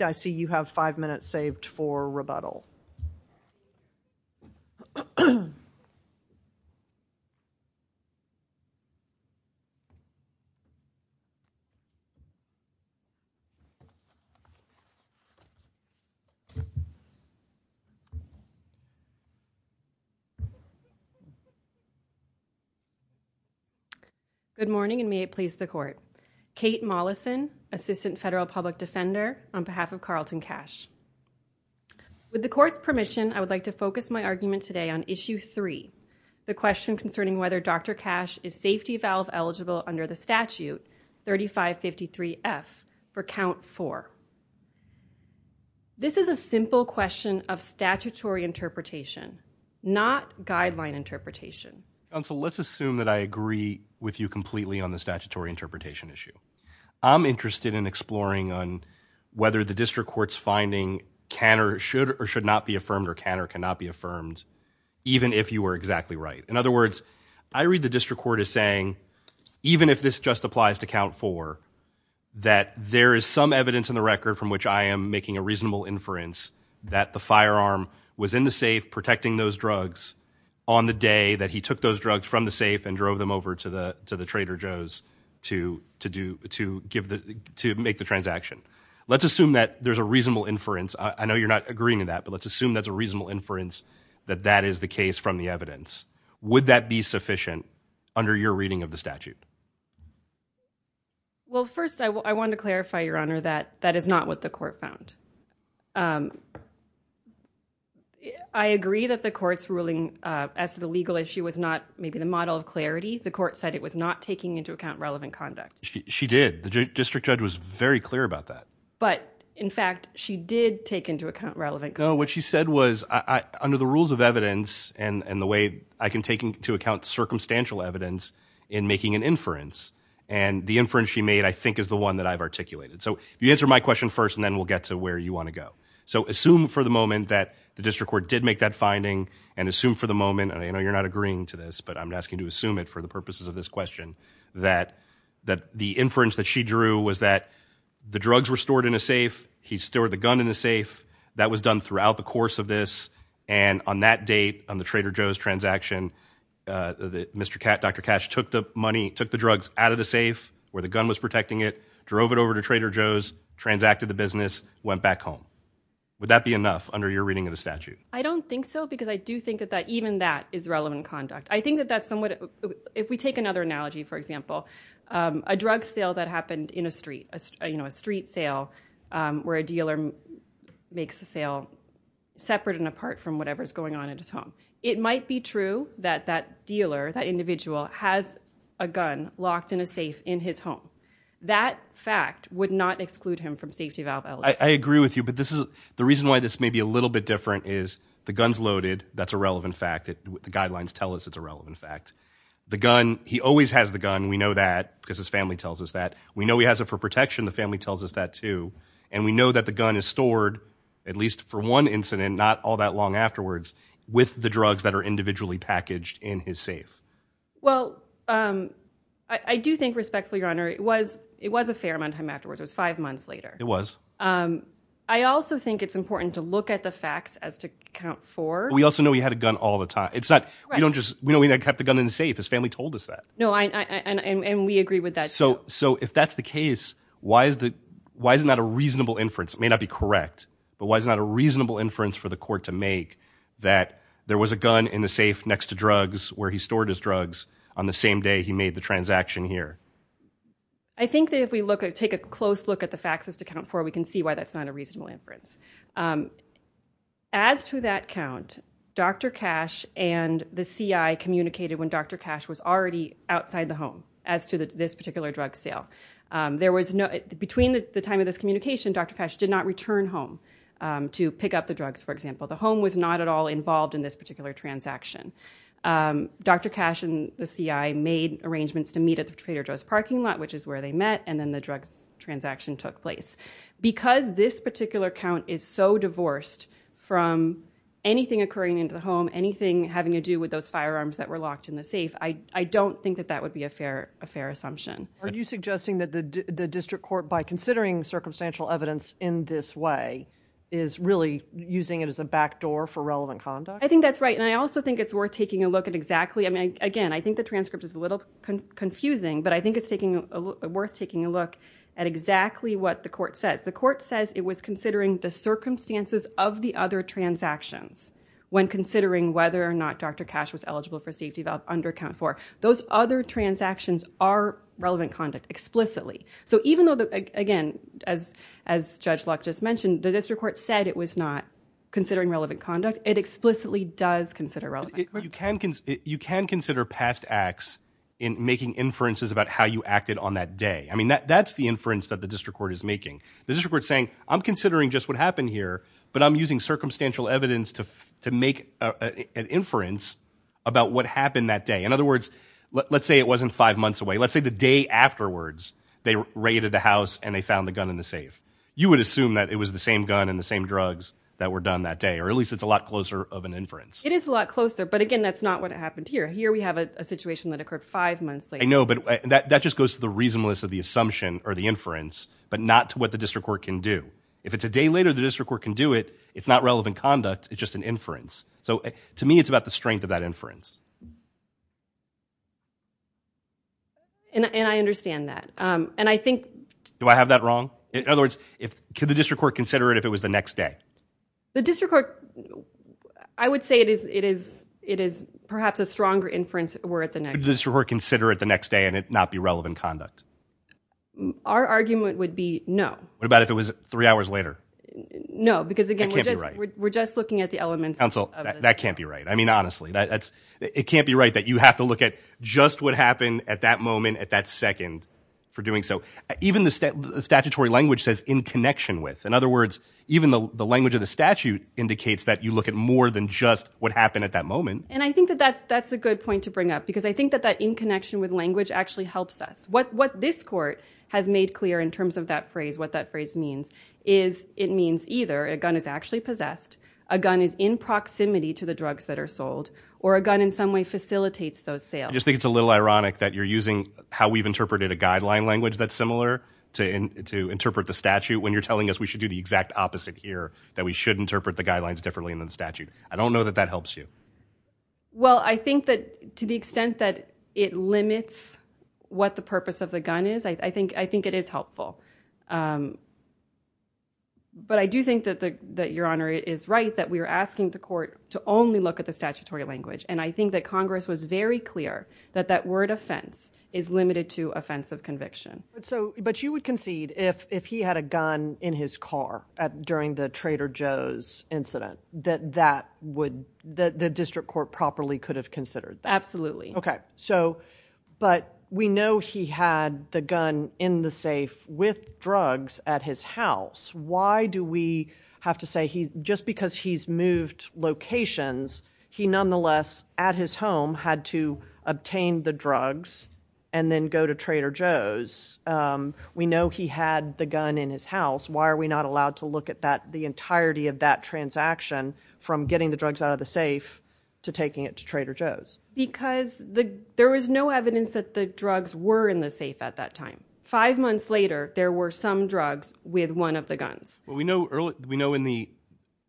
I see you have five minutes saved for rebuttal. Good morning and may it please the court. Kate Mollison, assistant federal public defender on behalf of Carlton Cash. With the court's permission, I would like to focus my argument today on issue three, the question concerning whether Dr. Cash is safety valve eligible under the statute 3553F for count four. This is a simple question of statutory interpretation, not guideline interpretation. Let's assume that I agree with you completely on the statutory interpretation issue. I'm interested in exploring on whether the district court's finding can or should or should not be affirmed or can or cannot be affirmed, even if you were exactly right. In other words, I read the district court as saying, even if this just applies to count four, that there is some evidence in the record from which I am making a reasonable inference that the firearm was in the safe protecting those drugs on the day that he took those drugs from the safe and drove them over to the to the Trader Joe's to to do to give the to make the transaction. Let's assume that there's a reasonable inference. I know you're not agreeing with that, but let's assume that's a reasonable inference that that is the case from the evidence. Would that be sufficient under your reading of the statute? Well, first, I want to clarify, Your Honor, that that is not what the court found. I agree that the court's ruling as the legal issue was not maybe the model of clarity. The court said it was not taking into account relevant conduct. She did. The district judge was very clear about that. But in fact, she did take into account relevant. What she said was under the rules of evidence and the way I can take into account circumstantial evidence in making an inference and the inference she made, I think, is the one that I've articulated. So you answer my question first and then we'll get to where you want to go. So assume for the moment that the district court did make that finding and assume for the moment. I know you're not agreeing to this, but I'm asking you to assume it for the purposes of this question, that that the inference that she drew was that the drugs were stored in a safe. He stored the gun in the safe that was done throughout the course of this. And on that date, on the Trader Joe's transaction, Mr. Kat, Dr. Cash took the money, took the drugs out of the safe where the gun was protecting it, drove it over to Trader Joe's, transacted the business, went back home. Would that be enough under your reading of the statute? I don't think so, because I do think that that even that is relevant conduct. I think that that's somewhat if we take another analogy, for example, a drug sale that happened in a street, you know, a street sale where a dealer makes a sale separate and apart from whatever's going on at his home. It might be true that that dealer, that individual has a gun locked in a safe in his home. That fact would not exclude him from safety valve eligibility. I agree with you. But this is the reason why this may be a little bit different is the gun's loaded. That's a relevant fact. The guidelines tell us it's a relevant fact. The gun, he always has the gun. We know that because his family tells us that. We know he has it for protection. The family tells us that, too. And we know that the gun is stored, at least for one incident, not all that long afterwards, with the drugs that are individually packaged in his safe. Well, I do think respectfully, Your Honor, it was it was a fair amount of time afterwards. It was five months later. It was. I also think it's important to look at the facts as to count for. We also know he had a gun all the time. It's not we don't just we don't have the gun in the safe. His family told us that. No, I and we agree with that. So so if that's the case, why is that? Why is that a reasonable inference may not be correct, but why is that a reasonable inference for the court to make that there was a gun in the safe next to drugs where he stored his drugs on the same day he made the transaction here? I think that if we look at take a close look at the facts as to count for, we can see why that's not a reasonable inference. As to that count, Dr. Cash and the CIA communicated when Dr. Cash was already outside the home as to this particular drug sale. There was no between the time of this communication, Dr. Cash did not return home to pick up the drugs. For example, the home was not at all involved in this particular transaction. Dr. Cash and the CIA made arrangements to meet at the Trader Joe's parking lot, which is where they met. And then the drugs transaction took place because this particular count is so divorced from anything occurring into the home, anything having to do with those firearms that were locked in the safe. I don't think that that would be a fair assumption. Are you suggesting that the district court, by considering circumstantial evidence in this way, is really using it as a backdoor for relevant conduct? I think that's right. And I also think it's worth taking a look at exactly, I mean, again, I think the transcript is a little confusing, but I think it's worth taking a look at exactly what the court says. The court says it was considering the circumstances of the other transactions when considering whether or not Dr. Cash was eligible for safety valve under count four. Those other transactions are relevant conduct explicitly. So even though, again, as Judge Luck just mentioned, the district court said it was not considering relevant conduct, it explicitly does consider relevant conduct. You can consider past acts in making inferences about how you acted on that day. I mean, that's the inference that the district court is making. The district court is saying, I'm considering just what happened here, but I'm using circumstantial evidence to make an inference about what happened that day. In other words, let's say it wasn't five months away. Let's say the day afterwards they raided the house and they found the gun in the safe. You would assume that it was the same gun and the same drugs that were done that day, or at least it's a lot closer of an inference. It is a lot closer, but again, that's not what happened here. Here we have a situation that occurred five months later. I know, but that just goes to the reasonableness of the assumption or the inference, but not to what the district court can do. If it's a day later, the district court can do it. It's not relevant conduct. It's just an inference. So to me, it's about the strength of that inference. And I understand that. And I think... Do I have that wrong? In other words, could the district court consider it if it was the next day? The district court, I would say it is perhaps a stronger inference were it the next day. Could the district court consider it the next day and it not be relevant conduct? Our argument would be no. What about if it was three hours later? No, because again, we're just looking at the elements of the statute. That can't be right. I mean, honestly, it can't be right that you have to look at just what happened at that moment at that second for doing so. Even the statutory language says, in connection with. In other words, even though the language of the statute indicates that you look at more than just what happened at that moment. And I think that that's a good point to bring up, because I think that that in connection with language actually helps us. What this court has made clear in terms of that phrase, what that phrase means, is it means either a gun is actually possessed, a gun is in proximity to the drugs that are sold, or a gun in some way facilitates those sales. I just think it's a little ironic that you're using how we've interpreted a guideline language that's similar to interpret the statute when you're telling us we should do the exact opposite here, that we should interpret the guidelines differently in the statute. I don't know that that helps you. Well, I think that to the extent that it limits what the purpose of the gun is, I think it is helpful. But I do think that Your Honor is right, that we are asking the court to only look at the statutory language, and I think that Congress was very clear that that word offense is limited to offense of conviction. But you would concede, if he had a gun in his car during the Trader Joe's incident, that the district court properly could have considered that? Absolutely. Okay. But we know he had the gun in the safe with drugs at his house. Why do we have to say, just because he's moved locations, he nonetheless, at his home, had to obtain the drugs and then go to Trader Joe's? We know he had the gun in his house. Why are we not allowed to look at the entirety of that transaction, from getting the drugs out of the safe to taking it to Trader Joe's? Because there was no evidence that the drugs were in the safe at that time. Five months later, there were some drugs with one of the guns. Well, we know in the...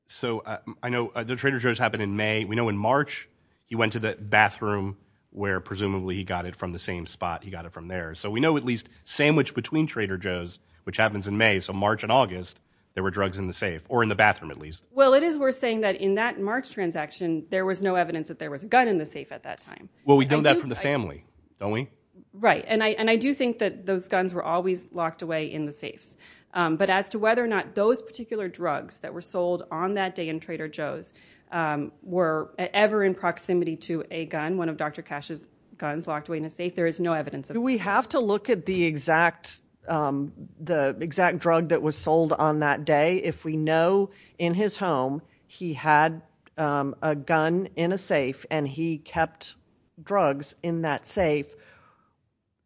So I know the Trader Joe's happened in May. We know in March, he went to the bathroom, where presumably he got it from the same spot he got it from there. So we know at least sandwiched between Trader Joe's, which happens in May. So March and August, there were drugs in the safe, or in the bathroom at least. Well, it is worth saying that in that March transaction, there was no evidence that there was a gun in the safe at that time. Well, we know that from the family, don't we? Right. And I do think that those guns were always locked away in the safes. But as to whether or not those particular drugs that were sold on that day in Trader Joe's were ever in proximity to a gun, one of Dr. Cash's guns locked away in a safe, there is no evidence of that. Do we have to look at the exact drug that was sold on that day? If we know in his home he had a gun in a safe and he kept drugs in that safe,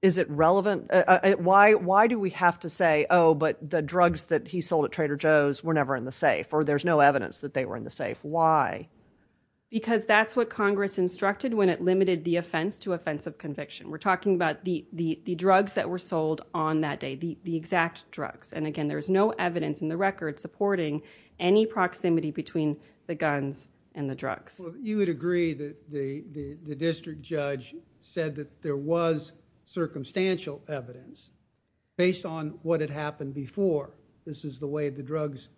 is it relevant? Why do we have to say, oh, but the drugs that he sold at Trader Joe's were never in the safe, or there's no evidence that they were in the safe? Why? Because that's what Congress instructed when it limited the offense to offense of conviction. We're talking about the drugs that were sold on that day, the exact drugs. And again, there's no evidence in the record supporting any proximity between the guns and the drugs. Well, you would agree that the district judge said that there was circumstantial evidence based on what had happened before. This is the way the drugs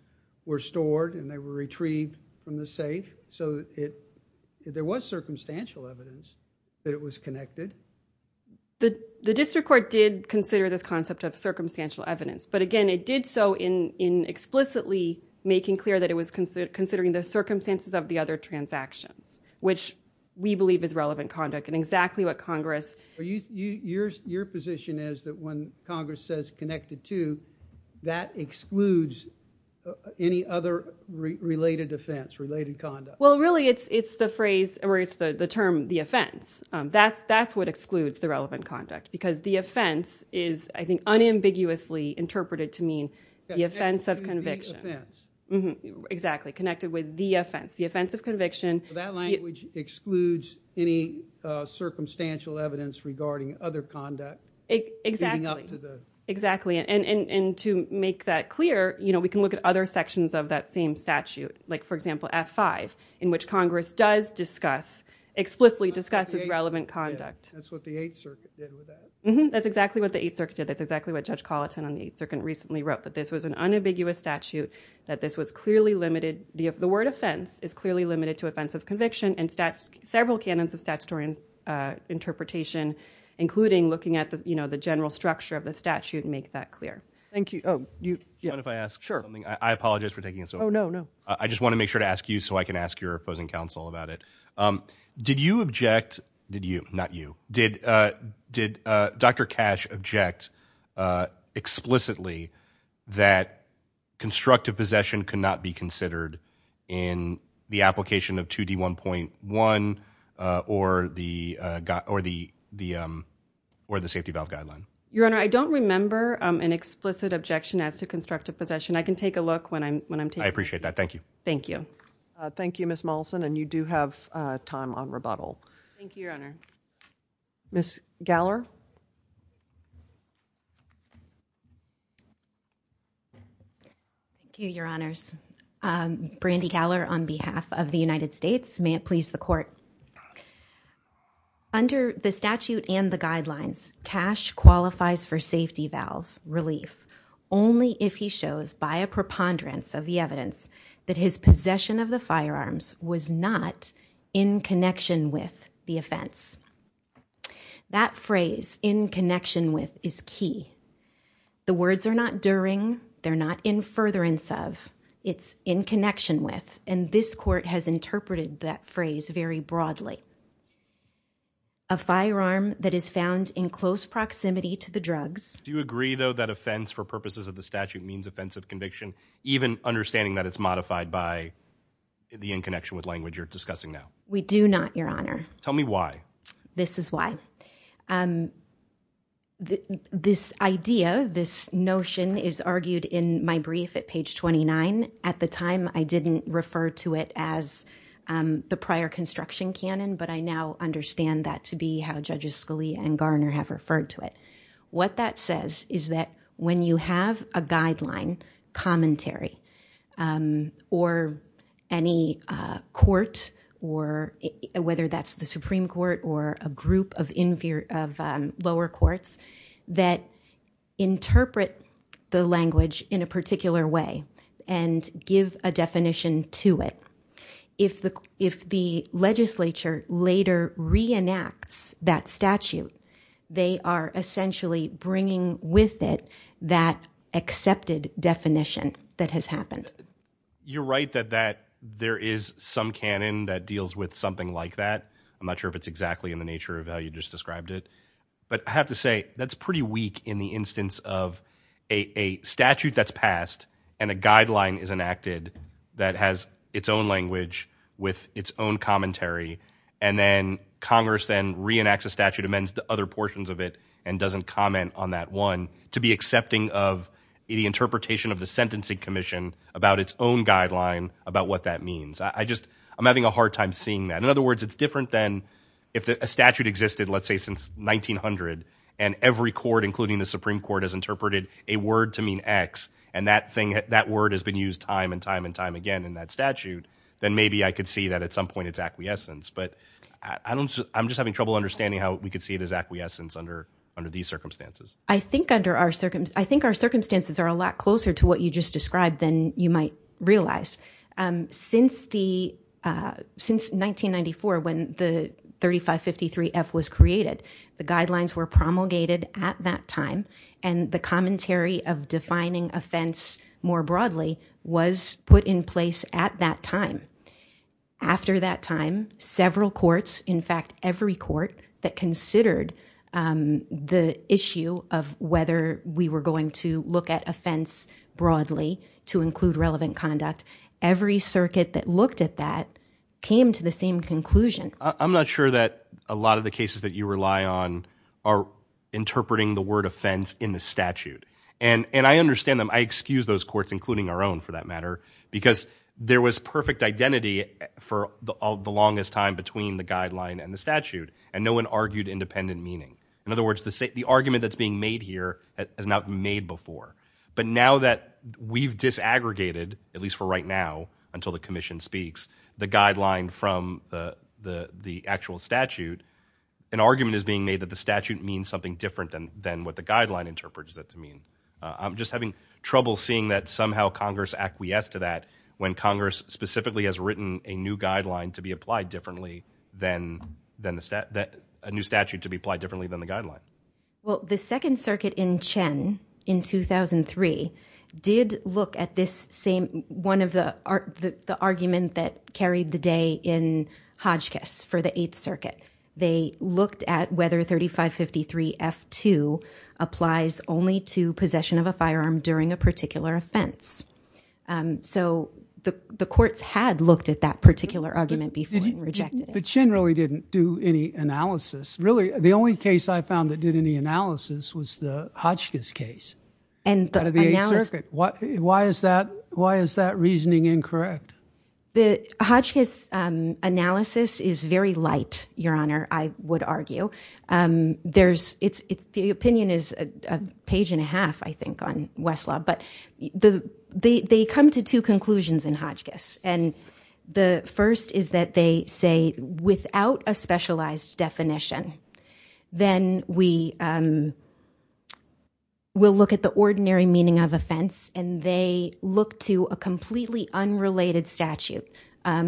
were stored and they were retrieved from the safe. So there was circumstantial evidence that it was connected. The district court did consider this concept of circumstantial evidence, but again, it did so in explicitly making clear that it was considering the circumstances of the other transactions which we believe is relevant conduct and exactly what Congress... Your position is that when Congress says connected to, that excludes any other related offense, related conduct? Well, really it's the phrase, or it's the term, the offense. That's what excludes the relevant conduct because the offense is, I think, unambiguously interpreted to mean the offense of conviction. The offense. Exactly. Connected with the offense. The offense of conviction... So that language excludes any circumstantial evidence regarding other conduct leading up to the... Exactly. And to make that clear, we can look at other sections of that same statute, like for example F-5, in which Congress does discuss, explicitly discusses relevant conduct. That's what the Eighth Circuit did with that? That's exactly what the Eighth Circuit did. That's exactly what Judge Colleton on the Eighth Circuit recently wrote, that this was an unambiguous statute, that this was clearly limited... the word offense is clearly limited to offense of conviction and several canons of statutory interpretation, including looking at the general structure of the statute to make that clear. Thank you. Oh, you... Do you mind if I ask something? I apologize for taking so long. Oh, no, no. I just want to make sure to ask you so I can ask your opposing counsel about it. Did you object... did you, not you... did Dr. Cash object explicitly that constructive possession could not be considered in the application of 2D1.1 or the Safety Valve Guideline? Your Honor, I don't remember an explicit objection as to constructive possession. I appreciate that. Thank you. Thank you. Thank you, Ms. Mollison. And you do have time on rebuttal. Thank you, Your Honor. Ms. Gowler. Thank you, Your Honors. Brandi Gowler on behalf of the United States. May it please the Court. Under the statute and the guidelines, Cash qualifies for safety valve relief only if he shows by a preponderance of the evidence that his possession of the firearms was not in connection with the offense. That phrase, in connection with, is key. The words are not during, they're not in furtherance of. It's in connection with, and this Court has interpreted that phrase very broadly. A firearm that is found in close proximity to the drugs... Even understanding that it's modified by the in connection with language you're discussing now. We do not, Your Honor. Tell me why. This is why. This idea, this notion is argued in my brief at page 29. At the time, I didn't refer to it as the prior construction canon, but I now understand that to be how Judges Scalia and Garner have referred to it. What that says is that when you have a guideline, commentary, or any court, whether that's the Supreme Court or a group of lower courts, that interpret the language in a particular way and give a definition to it. If the legislature later reenacts that statute, they are essentially bringing with it that accepted definition that has happened. You're right that there is some canon that deals with something like that. I'm not sure if it's exactly in the nature of how you just described it. But I have to say, that's pretty weak in the instance of a statute that's passed and a with its own commentary, and then Congress then reenacts a statute, amends the other portions of it, and doesn't comment on that one, to be accepting of the interpretation of the Sentencing Commission about its own guideline about what that means. I'm having a hard time seeing that. In other words, it's different than if a statute existed, let's say, since 1900, and every court, including the Supreme Court, has interpreted a word to mean X, and that word has been used time and time and time again in that statute, then maybe I could see that at some point it's acquiescence. But I'm just having trouble understanding how we could see it as acquiescence under these circumstances. I think our circumstances are a lot closer to what you just described than you might realize. Since 1994, when the 3553F was created, the guidelines were promulgated at that time, and the commentary of defining offense more broadly was put in place at that time. After that time, several courts, in fact, every court that considered the issue of whether we were going to look at offense broadly to include relevant conduct, every circuit that looked at that came to the same conclusion. I'm not sure that a lot of the cases that you rely on are interpreting the word offense in the statute. And I understand them. I excuse those courts, including our own, for that matter, because there was perfect identity for the longest time between the guideline and the statute, and no one argued independent meaning. In other words, the argument that's being made here has not been made before. But now that we've disaggregated, at least for right now, until the commission speaks, the guideline from the actual statute, an argument is being made that the statute means something different than what the guideline interprets it to mean. I'm just having trouble seeing that somehow Congress acquiesced to that when Congress specifically has written a new guideline to be applied differently than a new statute to be applied differently than the guideline. Well, the Second Circuit in Chen in 2003 did look at this same one of the argument that carried the day in Hodgkiss for the Eighth Circuit. They looked at whether 3553F2 applies only to possession of a firearm during a particular offense. So the courts had looked at that particular argument before and rejected it. But Chen really didn't do any analysis. Really, the only case I found that did any analysis was the Hodgkiss case out of the Eighth Circuit. Why is that reasoning incorrect? The Hodgkiss analysis is very light, Your Honor, I would argue. The opinion is a page and a half, I think, on Westlaw. But they come to two conclusions in Hodgkiss. And the first is that they say, without a specialized definition, then we will look at the ordinary meaning of offense, and they look to a completely unrelated statute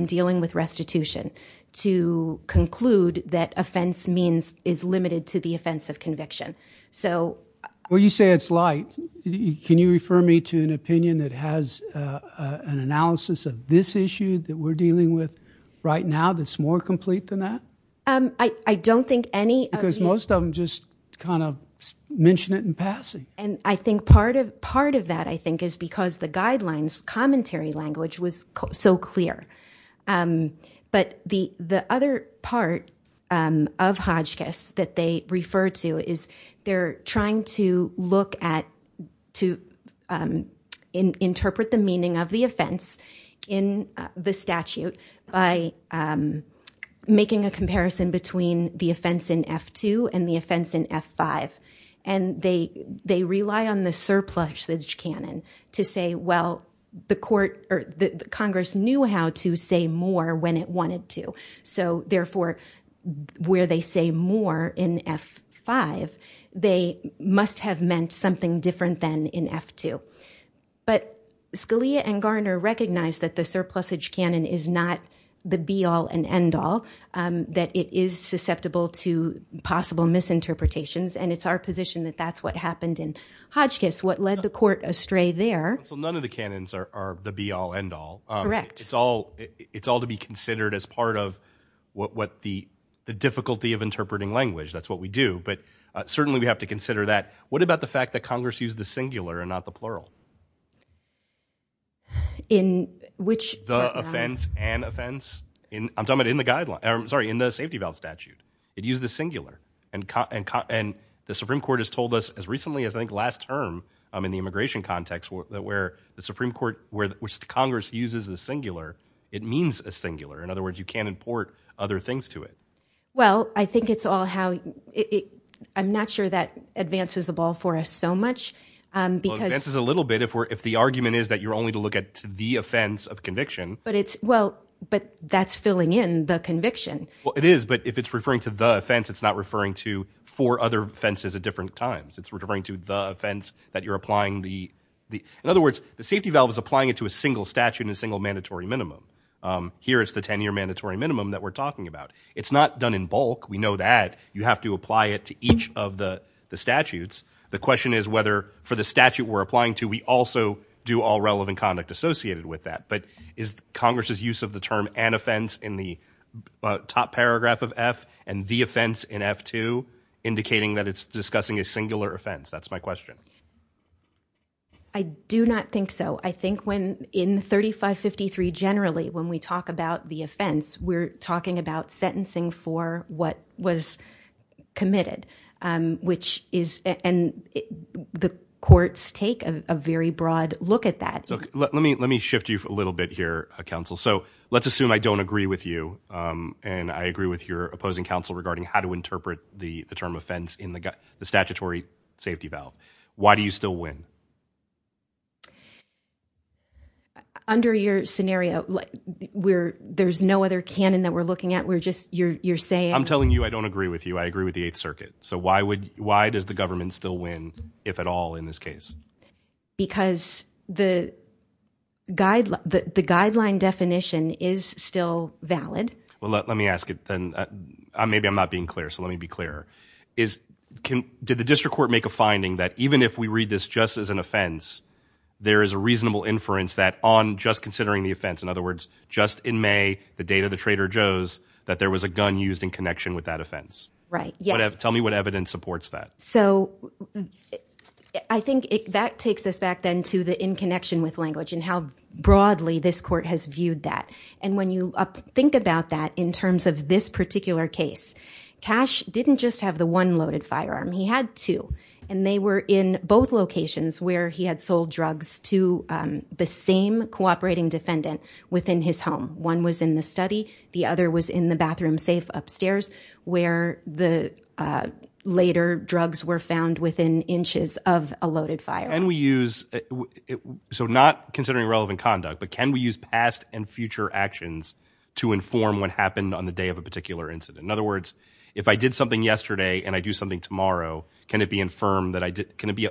dealing with restitution to conclude that offense means is limited to the offense of conviction. Well, you say it's light. Can you refer me to an opinion that has an analysis of this issue that we're dealing with right now that's more complete than that? I don't think any of the... Because most of them just kind of mention it in passing. And I think part of that, I think, is because the guidelines' commentary language was so clear. But the other part of Hodgkiss that they refer to is they're trying to look at, to interpret the meaning of the offense in the statute by making a comparison between the offense in F-2 and the offense in F-5. And they rely on the surplusage canon to say, well, the Congress knew how to say more when it wanted to. So therefore, where they say more in F-5, they must have meant something different than in F-2. But Scalia and Garner recognize that the surplusage canon is not the be-all and end-all, that it is susceptible to possible misinterpretations. And it's our position that that's what happened in Hodgkiss, what led the court astray there. So none of the canons are the be-all, end-all. Correct. It's all to be considered as part of what the difficulty of interpreting language. That's what we do. But certainly, we have to consider that. What about the fact that Congress used the singular and not the plural? In which... The offense and offense? I'm talking about in the guideline. I'm sorry, in the safety valve statute, it used the singular. And the Supreme Court has told us as recently as, I think, last term in the immigration context that where the Supreme Court, which Congress uses the singular, it means a singular. In other words, you can't import other things to it. Well, I think it's all how... I'm not sure that advances the ball for us so much because... Well, it advances a little bit if the argument is that you're only to look at the offense of conviction. But it's... Well, but that's filling in the conviction. Well, it is. But if it's referring to the offense, it's not referring to four other offenses at different times. It's referring to the offense that you're applying the... In other words, the safety valve is applying it to a single statute and a single mandatory minimum. Here, it's the 10-year mandatory minimum that we're talking about. It's not done in bulk. We know that. You have to apply it to each of the statutes. The question is whether for the statute we're applying to, we also do all relevant conduct associated with that. But is Congress's use of the term an offense in the top paragraph of F and the offense in F2 indicating that it's discussing a singular offense? That's my question. I do not think so. I think when in 3553 generally, when we talk about the offense, we're talking about sentencing for what was committed, which is... And the courts take a very broad look at that. Let me shift you a little bit here, counsel. So let's assume I don't agree with you and I agree with your opposing counsel regarding how to interpret the term offense in the statutory safety valve. Why do you still win? Under your scenario, there's no other canon that we're looking at. We're just... You're saying... I'm telling you I don't agree with you. I agree with the Eighth Circuit. So why does the government still win, if at all, in this case? Because the guideline definition is still valid. Well, let me ask it then. Maybe I'm not being clear, so let me be clear. Did the district court make a finding that even if we read this just as an offense, there is a reasonable inference that on just considering the offense, in other words, just in May, the date of the Trader Joe's, that there was a gun used in connection with that offense? Right. Yes. Tell me what evidence supports that. So I think that takes us back then to the in connection with language and how broadly this court has viewed that. And when you think about that in terms of this particular case, Cash didn't just have the one loaded firearm. He had two. And they were in both locations where he had sold drugs to the same cooperating defendant within his home. One was in the study. The other was in the bathroom safe upstairs where the later drugs were found within inches of a loaded firearm. Can we use, so not considering relevant conduct, but can we use past and future actions to inform what happened on the day of a particular incident? In other words, if I did something yesterday and I do something tomorrow, can it be infirmed that I did, can it be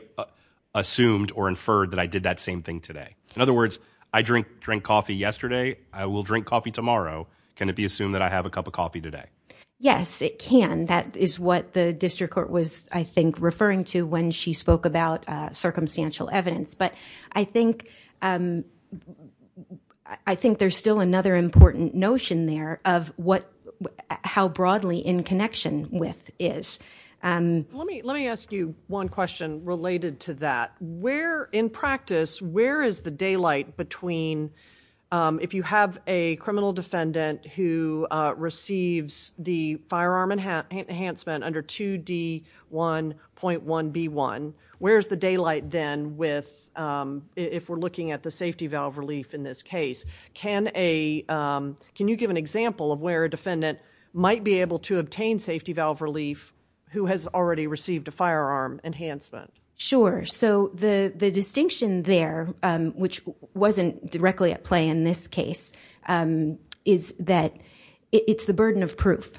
assumed or inferred that I did that same thing today? In other words, I drink, drink coffee yesterday. I will drink coffee tomorrow. Can it be assumed that I have a cup of coffee today? Yes, it can. That is what the district court was, I think, referring to when she spoke about circumstantial evidence. But I think, I think there's still another important notion there of what, how broadly in connection with is. Let me, let me ask you one question related to that. Where, in practice, where is the daylight between, if you have a criminal defendant who receives the firearm enhancement under 2D1.1B1, where's the daylight then with, if we're looking at the safety valve relief in this case? Can a, can you give an example of where a defendant might be able to obtain safety valve relief who has already received a firearm enhancement? Sure. So the, the distinction there, um, which wasn't directly at play in this case, um, is that it's the burden of proof.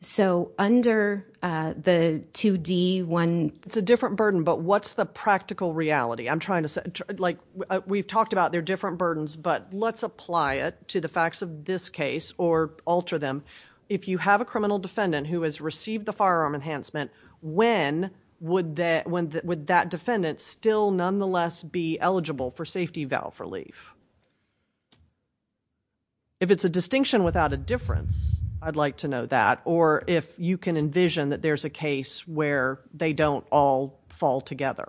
So under, uh, the 2D1, it's a different burden, but what's the practical reality? I'm trying to say, like we've talked about their different burdens, but let's apply it to the facts of this case or alter them. If you have a criminal defendant who has received the firearm enhancement, when would that, when would that defendant still nonetheless be eligible for safety valve relief? If it's a distinction without a difference, I'd like to know that. Or if you can envision that there's a case where they don't all fall together.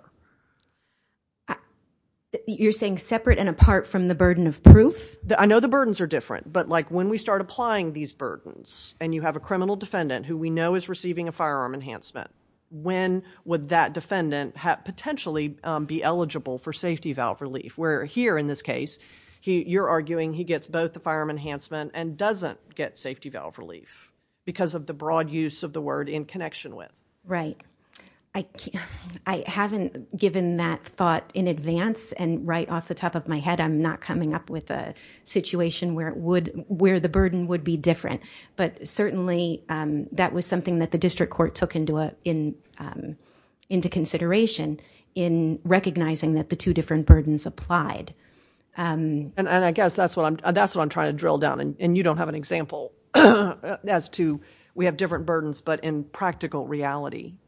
You're saying separate and apart from the burden of proof? I know the burdens are different, but like when we start applying these burdens and you have a criminal defendant who we know is receiving a firearm enhancement, when would that defendant have potentially, um, be eligible for safety valve relief? Where here in this case, he, you're arguing he gets both the firearm enhancement and doesn't get safety valve relief because of the broad use of the word in connection with. Right. I can't, I haven't given that thought in advance and right off the top of my head, I'm not coming up with a situation where it would, where the burden would be different. But certainly, um, that was something that the district court took into, uh, in, um, into consideration in recognizing that the two different burdens applied. Um, and I guess that's what I'm, that's what I'm trying to drill down and you don't have an example as to, we have different burdens, but in practical reality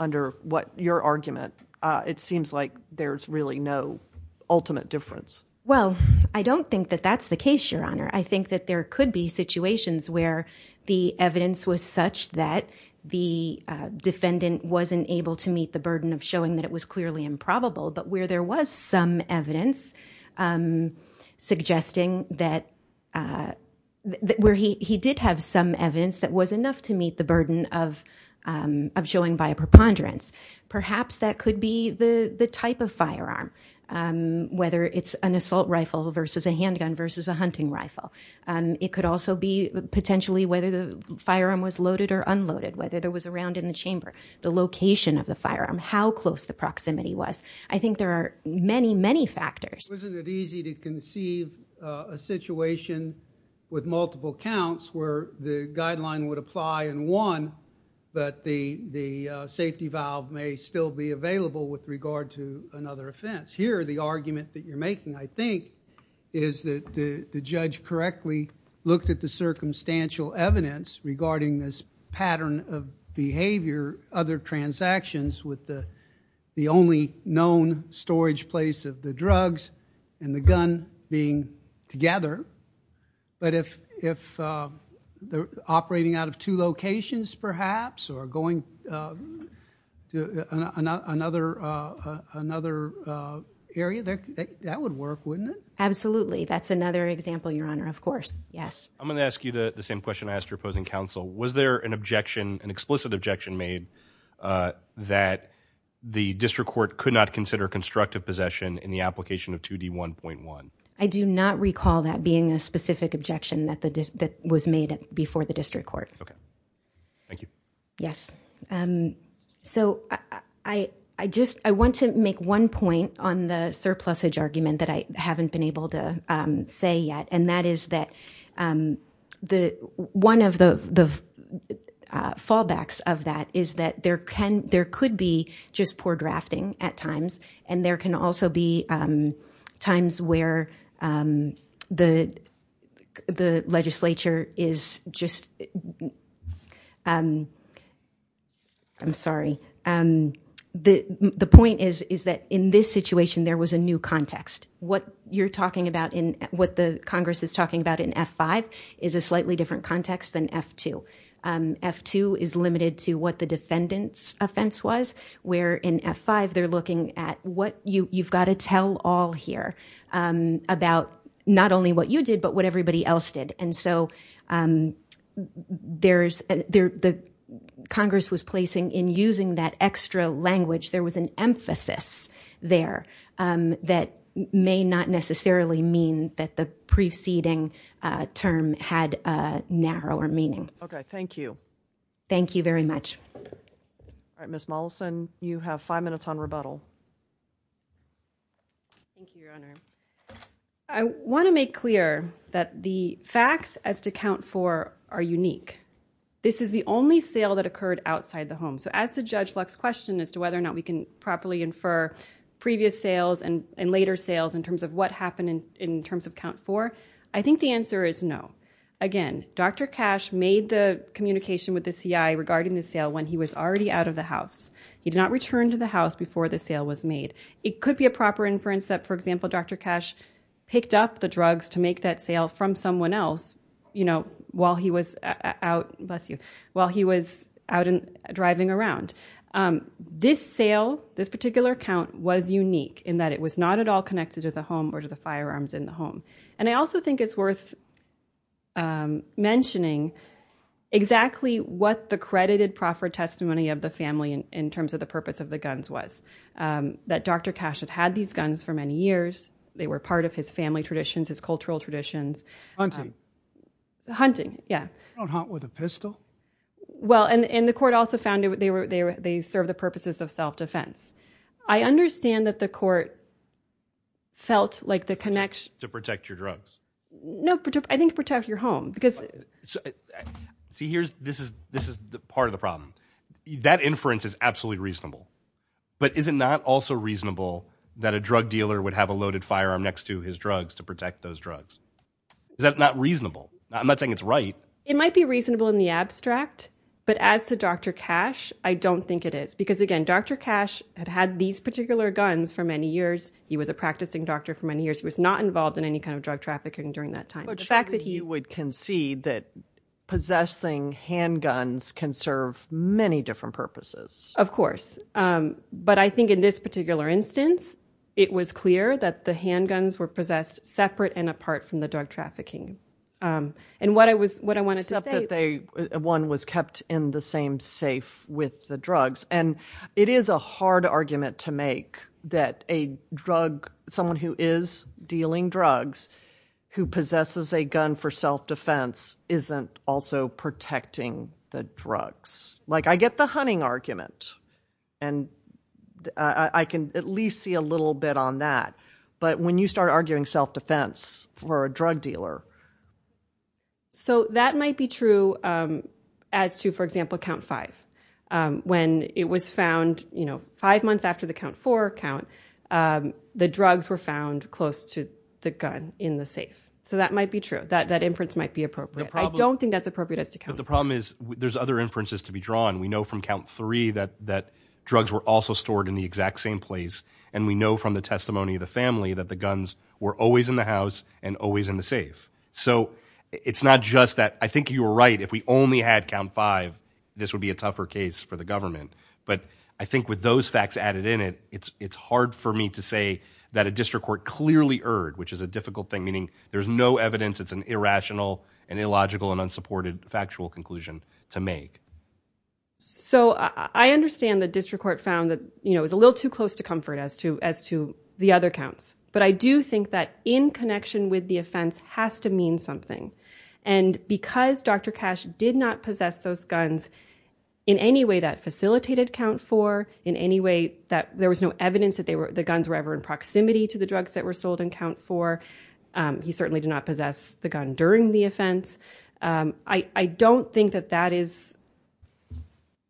under what your argument, uh, it seems like there's really no ultimate difference. Well, I don't think that that's the case, your honor. I think that there could be situations where the evidence was such that the, uh, defendant wasn't able to meet the burden of showing that it was clearly improbable, but where there was some evidence, um, suggesting that, uh, that where he, he did have some evidence that was enough to meet the burden of, um, of showing by a preponderance. Perhaps that could be the, the type of firearm, um, whether it's an assault rifle versus a hunting rifle. Um, it could also be potentially whether the firearm was loaded or unloaded, whether there was a round in the chamber, the location of the firearm, how close the proximity was. I think there are many, many factors. Wasn't it easy to conceive a situation with multiple counts where the guideline would apply in one, but the, the, uh, safety valve may still be available with regard to another offense. Here, the argument that you're making, I think, is that the judge correctly looked at the circumstantial evidence regarding this pattern of behavior, other transactions with the, the only known storage place of the drugs and the gun being together. But if, if, uh, they're operating out of two locations perhaps, or going, uh, to another, uh, another, uh, area there, that would work, wouldn't it? Absolutely. That's another example. Your Honor. Of course. Yes. I'm going to ask you the same question I asked your opposing counsel. Was there an objection, an explicit objection made, uh, that the district court could not consider constructive possession in the application of 2d 1.1? I do not recall that being a specific objection that the, that was made before the district court. Okay. Thank you. Yes. Um, so I, I just, I want to make one point on the surplus age argument that I haven't been able to, um, say yet. And that is that, um, the, one of the, the, uh, fallbacks of that is that there can, there could be just poor drafting at times. And there can also be, um, times where, um, the, the legislature is just, um, I'm sorry. Um, the, the point is, is that in this situation there was a new context. What you're talking about in what the Congress is talking about in F five is a slightly different context than F two. Um, F two is limited to what the defendant's offense was, where in F five, they're looking at what you, you've got to tell all here, um, about not only what you did, but what everybody else did. And so, um, there's there, the Congress was placing in using that extra language. There was an emphasis there, um, that may not necessarily mean that the preceding, uh, term had a narrower meaning. Okay. Thank you. Thank you very much. All right. Ms. Mollison, you have five minutes on rebuttal. Thank you, Your Honor. I want to make clear that the facts as to count for are unique. This is the only sale that occurred outside the home. So as the judge Lux question as to whether or not we can properly infer previous sales and later sales in terms of what happened in terms of count for, I think the answer is no. Again, Dr. Cash made the communication with the CI regarding the sale when he was already out of the house. He did not return to the house before the sale was made. It could be a proper inference that, for example, Dr. Cash picked up the drugs to make that sale from someone else, you know, while he was out, bless you, while he was out and driving around. Um, this sale, this particular account was unique in that it was not at all connected to the home or to the firearms in the home. And I also think it's worth, um, mentioning exactly what the credited proffer testimony of the family in terms of the purpose of the guns was, um, that Dr. Cash had had these guns for many years. They were part of his family traditions, his cultural traditions, hunting, yeah, hunt with a pistol. Well, and, and the court also found that they were, they were, they serve the purposes of self-defense. I understand that the court felt like the connection to protect your drugs, no, I think protect your home because see, here's, this is, this is part of the problem. That inference is absolutely reasonable, but is it not also reasonable that a drug dealer would have a loaded firearm next to his drugs to protect those drugs? Is that not reasonable? I'm not saying it's right. It might be reasonable in the abstract, but as to Dr. Cash, I don't think it is because again, Dr. Cash had had these particular guns for many years. He was a practicing doctor for many years, he was not involved in any kind of drug trafficking during that time. But surely you would concede that possessing handguns can serve many different purposes. Of course. Um, but I think in this particular instance, it was clear that the handguns were possessed separate and apart from the drug trafficking. Um, and what I was, what I wanted to say, Except that they, one was kept in the same safe with the drugs. And it is a hard argument to make that a drug, someone who is dealing drugs who possesses a gun for self-defense isn't also protecting the drugs. Like I get the hunting argument and I can at least see a little bit on that. But when you start arguing self-defense for a drug dealer. So that might be true. Um, as to, for example, count five, um, when it was found, you know, five months after the count for count, um, the drugs were found close to the gun in the safe. So that might be true that that inference might be appropriate. I don't think that's appropriate as to count. The problem is there's other inferences to be drawn. We know from count three that, that drugs were also stored in the exact same place. And we know from the testimony of the family that the guns were always in the house and always in the safe. So it's not just that I think you were right. If we only had count five, this would be a tougher case for the government. But I think with those facts added in it, it's, it's hard for me to say that a district court clearly erred, which is a difficult thing, meaning there's no evidence. It's an irrational and illogical and unsupported factual conclusion to make. So I understand the district court found that, you know, it was a little too close to comfort as to, as to the other counts. But I do think that in connection with the offense has to mean something. And because Dr. Cash did not possess those guns in any way that facilitated count four, in any way that there was no evidence that they were, the guns were ever in proximity to the drugs that were sold in count four, he certainly did not possess the gun during the offense. I don't think that that is,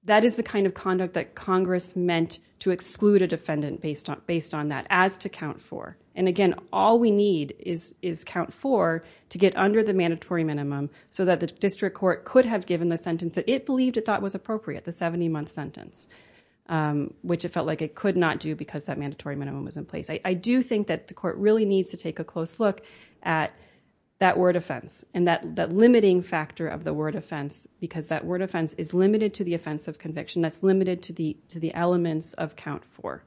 that is the kind of conduct that Congress meant to exclude a defendant based on, based on that as to count four. And again, all we need is, is count four to get under the mandatory minimum so that the district court could have given the sentence that it believed it thought was appropriate, the 70 month sentence, which it felt like it could not do because that mandatory minimum was in place. I do think that the court really needs to take a close look at that word offense and that, that limiting factor of the word offense, because that word offense is limited to the offense of conviction. That's limited to the, to the elements of count four.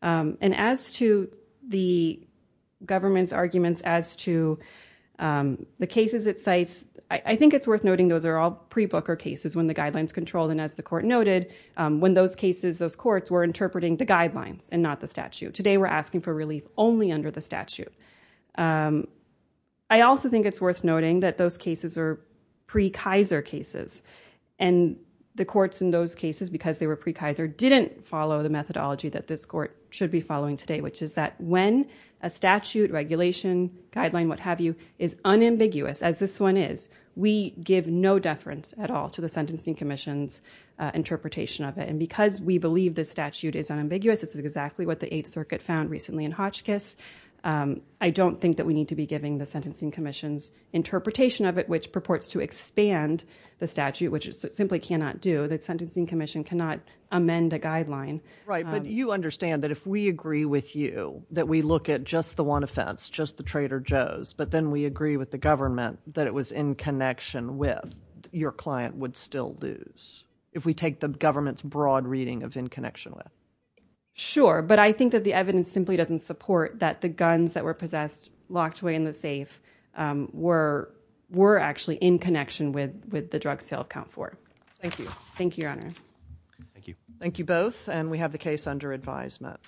And as to the government's arguments as to the cases it cites, I think it's worth noting those are all pre-Booker cases when the guidelines controlled and as the court noted, when those cases, those courts were interpreting the guidelines and not the statute. Today we're asking for relief only under the statute. I also think it's worth noting that those cases are pre-Kaiser cases and the courts in those cases, because they were pre-Kaiser, didn't follow the methodology that this court should be following today, which is that when a statute, regulation, guideline, what have you, is unambiguous as this one is, we give no deference at all to the Sentencing Commission's interpretation of it. And because we believe the statute is unambiguous, it's exactly what the Eighth Circuit found recently in Hotchkiss, I don't think that we need to be giving the Sentencing Commission's interpretation of it, which purports to expand the statute, which it simply cannot do. The Sentencing Commission cannot amend a guideline. Right, but you understand that if we agree with you, that we look at just the one offense, just the Trader Joe's, but then we agree with the government that it was in connection with, your client would still lose, if we take the government's broad reading of in connection with. Sure, but I think that the evidence simply doesn't support that the guns that were possessed, locked away in the safe, were actually in connection with the drug sale of COUNT 4. Thank you. Thank you, Your Honor. Thank you. Thank you both, and we have the case under advisement.